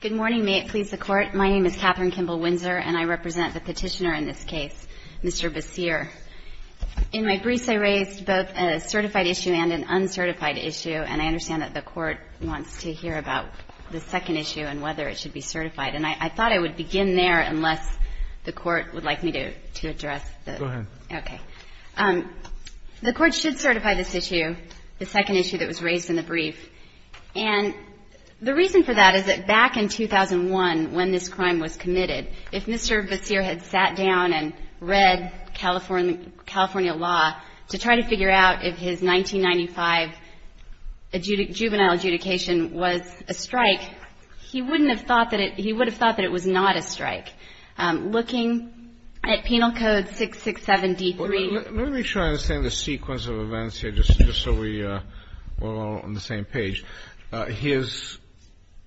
Good morning. May it please the Court. My name is Katherine Kimball-Windsor, and I represent the petitioner in this case, Mr. Baseer. In my briefs, I raised both a certified issue and an uncertified issue, and I understand that the Court wants to hear about the second issue and whether it should be certified. And I thought I would begin there, unless the Court would like me to address the... Go ahead. Okay. The Court should certify this The reason for that is that back in 2001, when this crime was committed, if Mr. Baseer had sat down and read California law to try to figure out if his 1995 juvenile adjudication was a strike, he wouldn't have thought that it... He would have thought that it was not a strike. Looking at Penal Code 667-D3... Let me try to understand the sequence of events here, just so we're all on the same page. His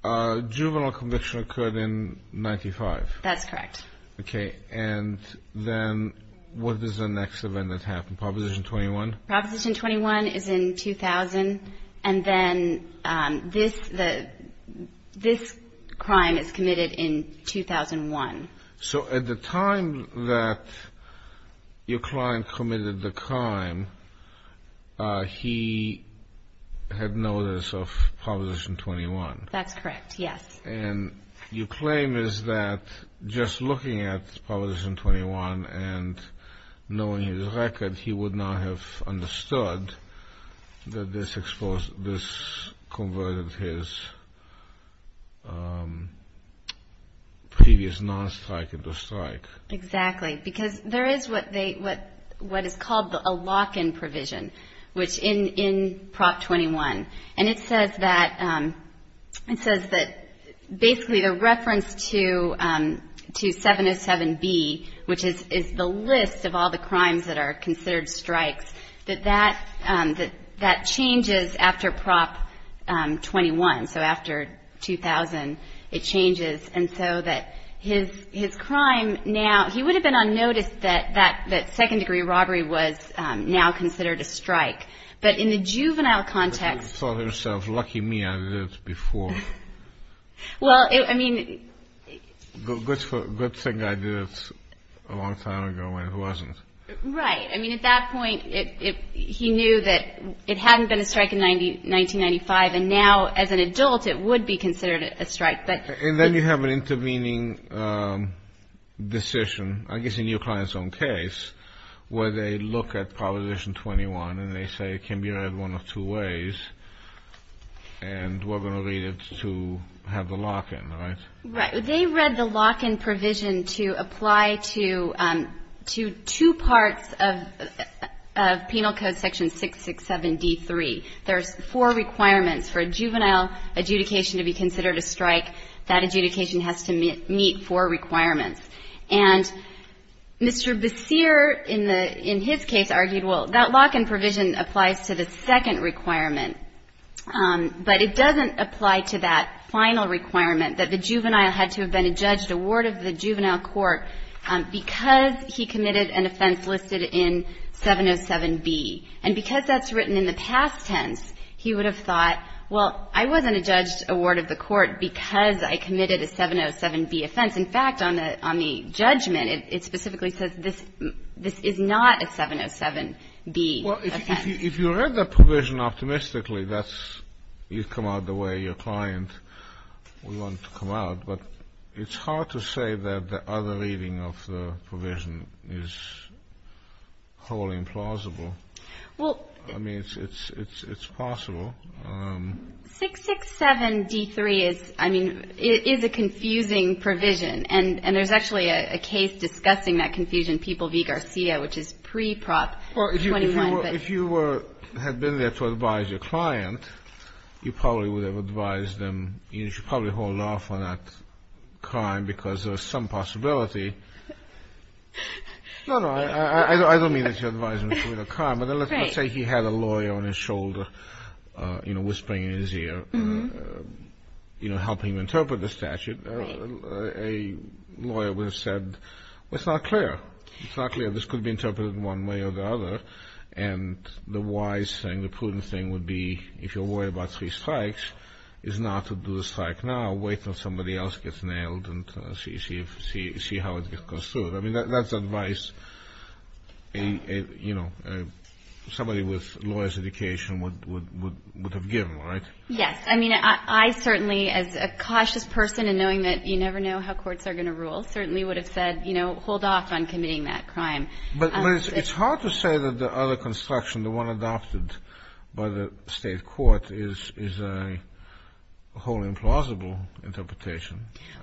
juvenile conviction occurred in 1995. That's correct. Okay. And then what is the next event that happened? Proposition 21? Proposition 21 is in 2000, and then this crime is committed in 2001. So at the time that your client committed the crime, he had notice of Proposition 21 That's correct, yes. And your claim is that just looking at Proposition 21 and knowing his record, he would not have understood that this converted his previous non-strike into strike. Exactly. Because there is what is called a lock-in provision, which in Prop 21, and it says that basically the reference to 707-B, which is the list of all the crimes that are considered strikes, that that changes after Prop 21. So after 2000, it changes. And so that his crime now... He would have been unnoticed that second-degree robbery was now considered a strike. But in the juvenile context... She thought to herself, lucky me, I did it before. Good thing I did it a long time ago when it wasn't. Right. I mean, at that point, he knew that it hadn't been a strike in 1995, and now as an adult, it would be considered a strike. And then you have an intervening decision, I guess in your client's own case, where they look at Proposition 21, and they say it can be read one of two ways, and we're going to read it to have the lock-in, right? Right. They read the lock-in provision to apply to two parts of Penal Code Section 667-D3. There's four requirements for a juvenile adjudication to be considered a strike. That adjudication has to meet four requirements. And Mr. Basseer, in his case, argued, well, that lock-in provision applies to the second requirement, but it doesn't apply to that final requirement that the juvenile had to have been adjudged a ward of the juvenile court because he committed an offense listed in 707-B. And because that's written in the past tense, he would have thought, well, I wasn't adjudged a ward of the court because I committed a 707-B offense. In fact, on the judgment, it specifically says this is not a 707-B offense. Well, if you read the provision optimistically, that's you come out the way your client would want to come out. But it's hard to say that the other reading of the provision is wholly implausible. Well — I mean, it's possible. 667-D3 is — I mean, it is a confusing provision. And there's actually a case discussing that confusion, People v. Garcia, which is pre-Prop 21. If you were — had been there to advise your client, you probably would have advised them — you should probably hold off on that crime because there's some possibility — no, no, I don't mean that you advise them to commit a crime, but let's not say he had a lawyer on his shoulder, you know, whispering in his ear, you know, helping him interpret the statute. A lawyer would have said, well, it's not clear. It's not clear. This could be interpreted one way or the other. And the wise thing, the prudent thing would be, if you're worried about three strikes, is not to do the strike now. Wait until somebody else gets nailed and see how it goes through. I mean, that's advice a — you know, somebody with lawyer's education would have given, right? Yes. I mean, I certainly, as a cautious person and knowing that you never know how courts are going to rule, certainly would have said, you know, hold off on committing that crime. But it's hard to say that the other construction, the one adopted by the State Court, is a wholly implausible interpretation.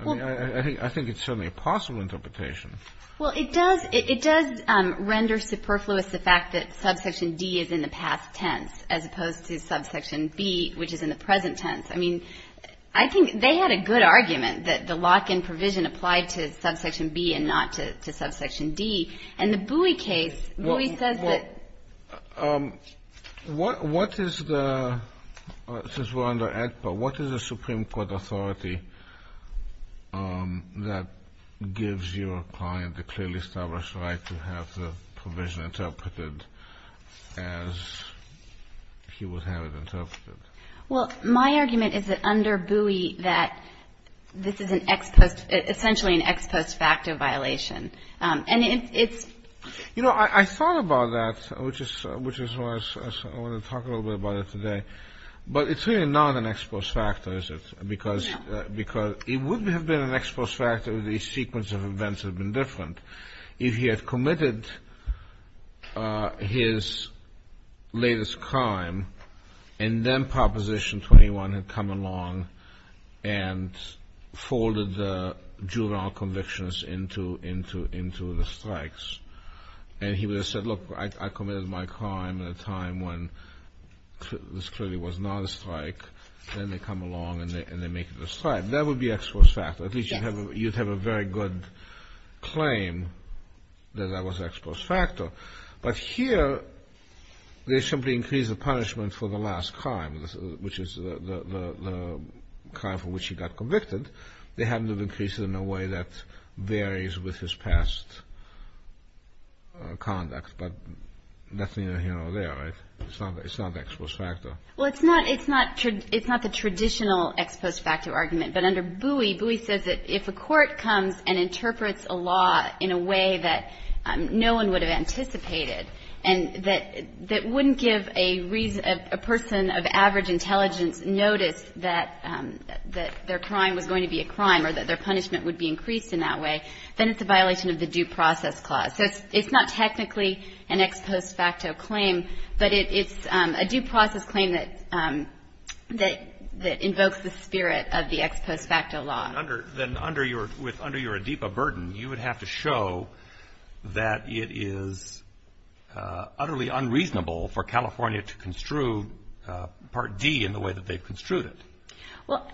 Well — I think it's certainly a possible interpretation. Well, it does — it does render superfluous the fact that Subsection D is in the past tense, as opposed to Subsection B, which is in the present tense. I mean, I think they had a good argument that the lock-in provision applied to Subsection B and not to Subsection D. And the Bowie case — Bowie says that — Well, what is the — since we're under ACPA, what is a Supreme Court authority that gives your client the clearly established right to have the provision interpreted as he would have it interpreted? Well, my argument is that under Bowie, that this is an ex — essentially an ex post facto violation. And it's — You know, I thought about that, which is why I want to talk a little bit about it today. But it's really not an ex post facto, is it? Because it would have been an ex post facto if the sequence of events had been different. If he had committed his latest crime, and then Proposition 21 had come along and folded the juvenile convictions into — into — into the strikes, and he would have said, look, I committed my crime at a time when it was clearly was not a strike. Then they come along and they make it a strike. That would be ex post facto. At least you'd have a — you'd have a very good claim that that was ex post facto. But here, they simply increase the punishment for the last crime, which is the crime for which he got convicted. They haven't increased it in a way that varies with his past conduct. But that's neither here nor there, right? It's not — it's not ex post facto. Well, it's not — it's not the traditional ex post facto argument. But under Bowie, Bowie says that if a court comes and interprets a law in a way that no one would have anticipated and that — that wouldn't give a person of average intelligence notice that their crime was going to be a crime or that their punishment would be increased in that way, then it's a violation of the Due Process Clause. So it's not technically an ex post facto claim, but it's a due process claim that — that invokes the spirit of the ex post facto law. Then under your — with — under your ADIPA burden, you would have to show that it is utterly unreasonable for California to construe Part D in the way that they've construed it. Well,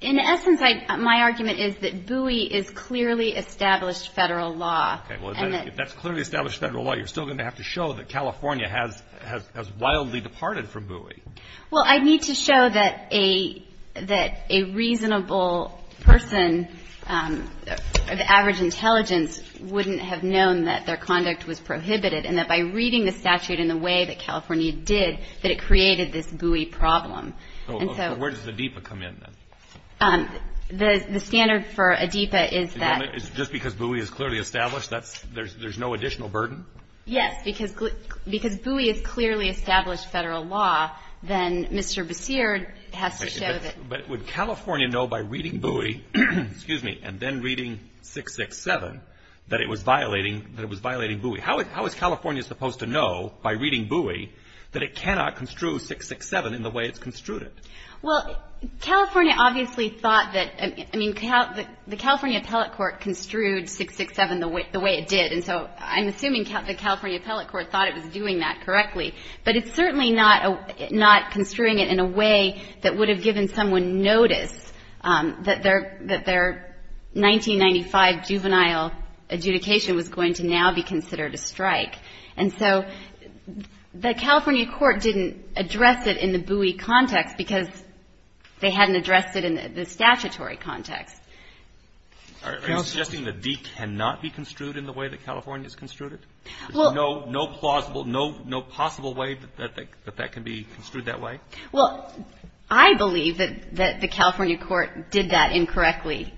in essence, I — my argument is that Bowie is clearly established federal law. Okay. Well, if that's clearly established federal law, you're still going to have to show that California has — has wildly departed from Bowie. Well, I'd need to show that a — that a reasonable person of average intelligence wouldn't have known that their conduct was prohibited and that by reading the statute in the way that ADIPA come in, then. The — the standard for ADIPA is that — Just because Bowie is clearly established, that's — there's — there's no additional burden? Yes, because — because Bowie is clearly established federal law, then Mr. Basir has to show that — But would California know by reading Bowie — excuse me — and then reading 667 that it was violating — that it was violating Bowie, how is California supposed to know by reading Bowie that it cannot construe 667 in the way it's construed it? Well, California obviously thought that — I mean, the California appellate court construed 667 the way it did. And so I'm assuming the California appellate court thought it was doing that correctly. But it's certainly not — not construing it in a way that would have given someone notice that their — their judicial adjudication was going to now be considered a strike. And so the California court didn't address it in the Bowie context because they hadn't addressed it in the statutory context. Are you suggesting that D cannot be construed in the way that California has construed it? Well — There's no plausible — no possible way that that can be construed that way? Well, I believe that the California court did that incorrectly.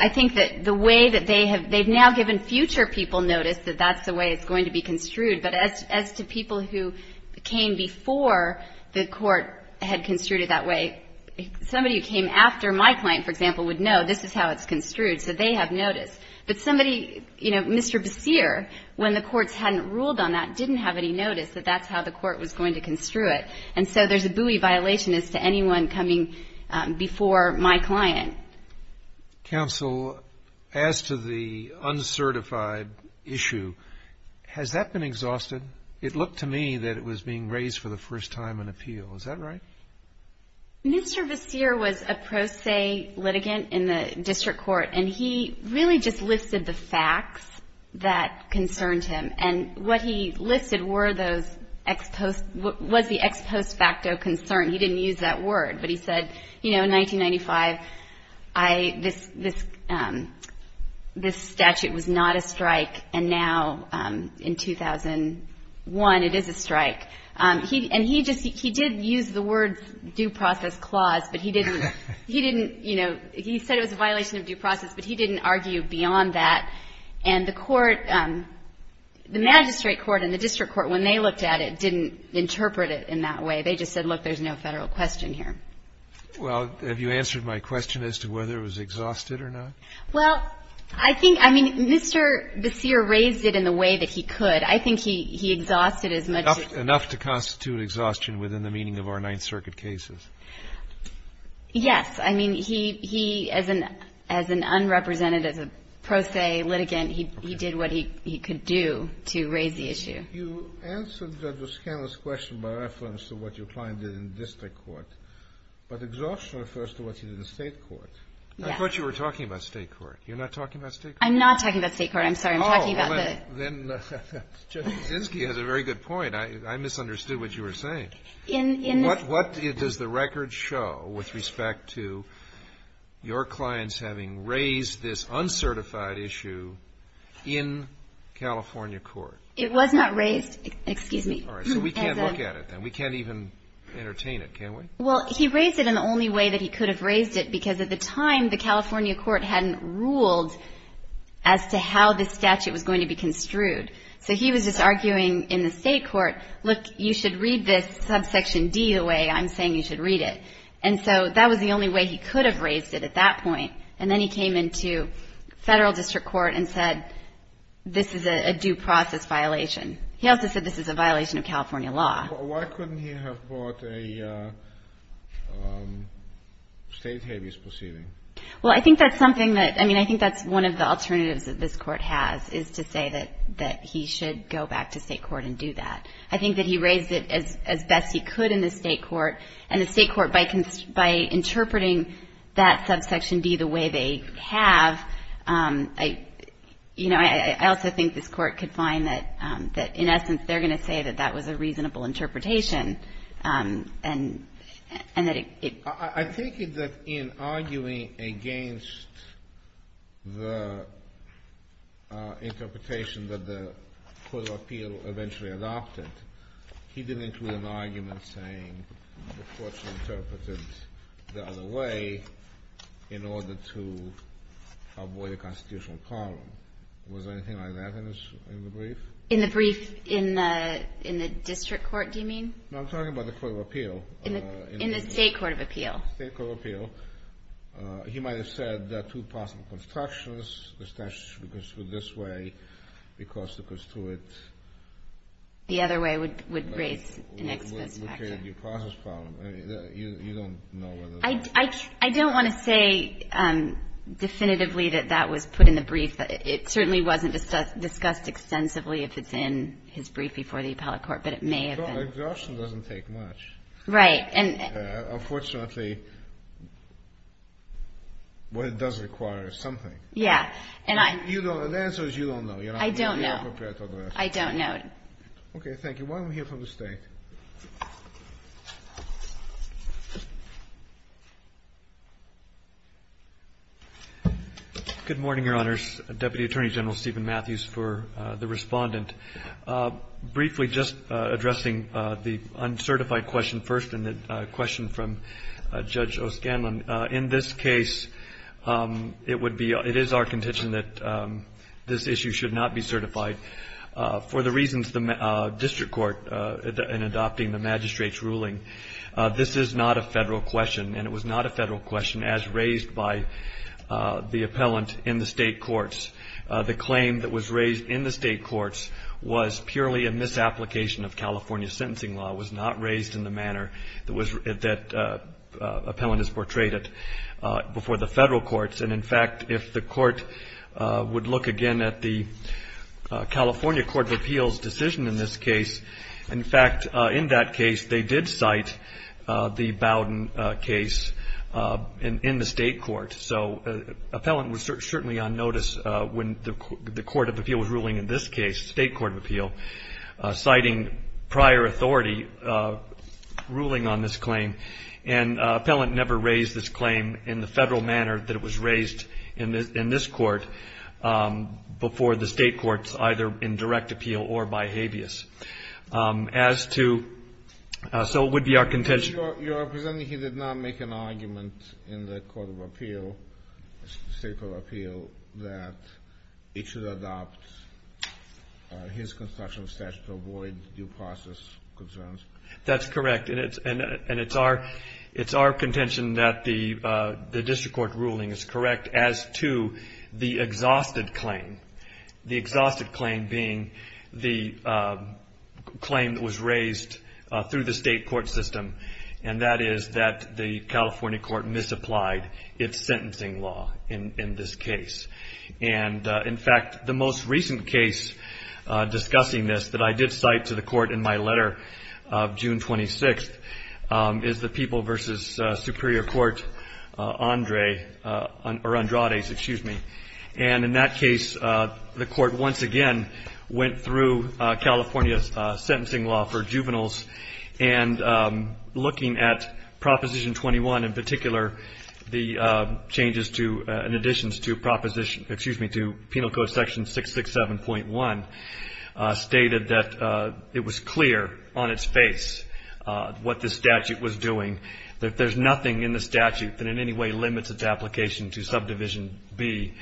I think that the way that they have — they've now given future people notice that that's the way it's going to be construed. But as to people who came before the court had construed it that way, somebody who came after my client, for example, would know this is how it's construed, so they have noticed. But somebody — you know, Mr. Basseer, when the courts hadn't ruled on that, didn't have any notice that that's how the court was going to construe it. And so there's a Bowie violation as to anyone coming before my client. Counsel, as to the uncertified issue, has that been exhausted? It looked to me that it was being raised for the first time in appeal. Is that right? Mr. Basseer was a pro se litigant in the district court, and he really just listed the facts that concerned him. And what he listed were those — was the ex post facto concern. He didn't use that word, but he said, you know, in 1995, this statute was not a strike, and now in 2001 it is a strike. And he just — he did use the word due process clause, but he didn't — he didn't — you know, he said it was a violation of due process, but he didn't argue beyond that. And the court — the magistrate court and the district court, when they looked at it, didn't interpret it in that way. They just said, look, there's no Federal question here. Well, have you answered my question as to whether it was exhausted or not? Well, I think — I mean, Mr. Basseer raised it in the way that he could. I think he exhausted as much as — Enough to constitute exhaustion within the meaning of our Ninth Circuit cases. Yes. I mean, he — he, as an — as an unrepresentative, as a pro se litigant, he did what he could do to raise the issue. You answered the Scandalous question by reference to what your client did in district court, but exhaustion refers to what he did in state court. Yes. I thought you were talking about state court. You're not talking about state court? I'm not talking about state court. I'm sorry. I'm talking about the — Well, then Judge Kaczynski has a very good point. I misunderstood what you were saying. In — What does the record show with respect to your clients having raised this uncertified issue in California court? It was not raised — excuse me. All right. So we can't look at it, then. We can't even entertain it, can we? Well, he raised it in the only way that he could have raised it, because at the time, the California court hadn't ruled as to how this statute was going to be construed. So he was just arguing in the state court, look, you should read this subsection D the way I'm saying you should read it. And so that was the only way he could have raised it at that point. And then he came into federal district court and said this is a due process violation. He also said this is a violation of California law. Why couldn't he have brought a state habeas proceeding? Well, I think that's something that — I mean, I think that's one of the alternatives that this court has, is to say that he should go back to state court and do that. I think that he raised it as best he could in the state court. And the state court, by interpreting that subsection D the way they have, you know, I also think this court could find that, in essence, they're going to say that that was a reasonable interpretation and that it — I think that in arguing against the interpretation that the court of appeal eventually adopted, he didn't include an argument saying the court should interpret it the other way in order to avoid a constitutional problem. Was there anything like that in the brief? In the brief? In the district court, do you mean? No, I'm talking about the court of appeal. In the state court of appeal. State court of appeal. He might have said there are two possible constructions. The statute should be construed this way because to construe it — The other way would raise an expense factor. Would create a due process problem. You don't know whether or not — I don't want to say definitively that that was put in the brief. It certainly wasn't discussed extensively if it's in his brief before the appellate court, but it may have been. Exhaustion doesn't take much. Right. Unfortunately, what it does require is something. Yeah. And I — The answer is you don't know. I don't know. I don't know. Okay. Thank you. Why don't we hear from the State? Good morning, Your Honors. Deputy Attorney General Stephen Matthews for the Respondent. Briefly, just addressing the uncertified question first and the question from Judge O'Scanlan. In this case, it would be — it is our contention that this issue should not be certified in adopting the magistrate's ruling. This is not a Federal question, and it was not a Federal question as raised by the appellant in the State courts. The claim that was raised in the State courts was purely a misapplication of California sentencing law. It was not raised in the manner that was — that appellant has portrayed it before the Federal courts. And, in fact, if the court would look again at the California Court of Appeals decision in this case, in fact, in that case, they did cite the Bowden case in the State court. So, appellant was certainly on notice when the Court of Appeals ruling in this case, State Court of Appeal, citing prior authority ruling on this claim. And appellant never raised this claim in the Federal manner that it was raised in this court before the State courts, either in direct appeal or by habeas. As to — so it would be our contention — You're presenting he did not make an argument in the Court of Appeal, State Court of Appeal, that it should adopt his constitutional statute to avoid due process concerns. That's correct. And it's our contention that the district court ruling is correct as to the exhausted claim. The exhausted claim being the claim that was raised through the State court system, and that is that the California court misapplied its sentencing law in this case. And, in fact, the most recent case discussing this that I did cite to the court in my letter of June 26th is the People v. Superior Court Andrades. And in that case, the court once again went through California's sentencing law for juveniles And looking at Proposition 21 in particular, the changes to — in addition to proposition — excuse me, to Penal Code Section 667.1 stated that it was clear on its face what the statute was doing, that there's nothing in the statute that in any way limits its application to subdivision B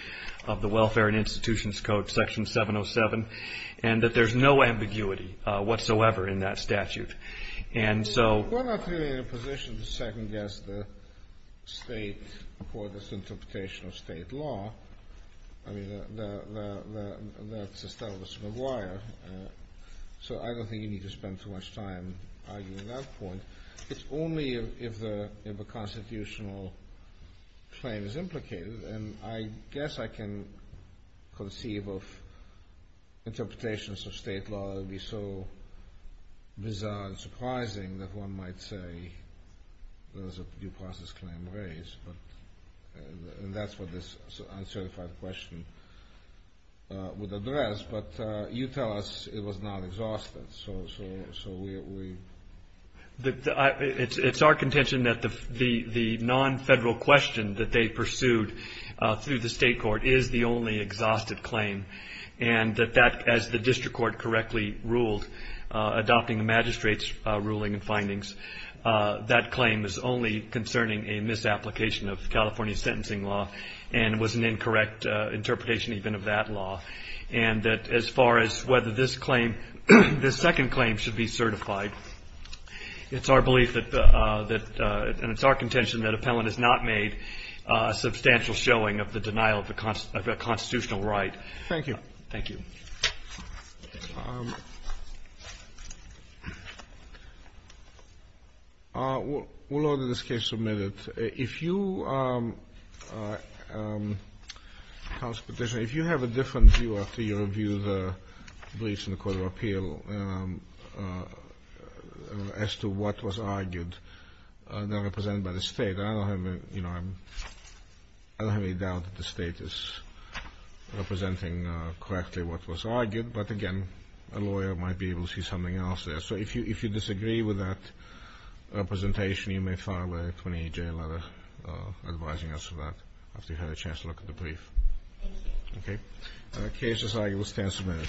of the Welfare and Institutions Code Section 707, and that there's no ambiguity whatsoever in that statute. And so — We're not really in a position to second-guess the State court's interpretation of State law. I mean, that's established in the wire. So I don't think you need to spend too much time arguing that point. It's only if a constitutional claim is implicated. And I guess I can conceive of interpretations of State law that would be so bizarre and surprising that one might say there was a due process claim raised. And that's what this uncertified question would address. But you tell us it was not exhausted, so we — It's our contention that the non-Federal question that they pursued through the State court is the only exhausted claim. And that that, as the district court correctly ruled, adopting the magistrate's ruling and findings, that claim is only concerning a misapplication of California sentencing law and was an incorrect interpretation even of that law. And that as far as whether this claim — this second claim should be certified, it's our belief that — and it's our contention that appellant has not made a substantial showing of the denial of a constitutional right. Thank you. Thank you. We'll order this case submitted. If you — if you have a different view after you review the briefs in the Court of Appeal as to what was argued, not represented by the State. I don't have any doubt that the State is representing correctly what was argued. But again, a lawyer might be able to see something else there. So if you disagree with that representation, you may file a 28-J letter advising us of that after you've had a chance to look at the brief. Thank you. Okay. The case is argued. We'll stand submitted.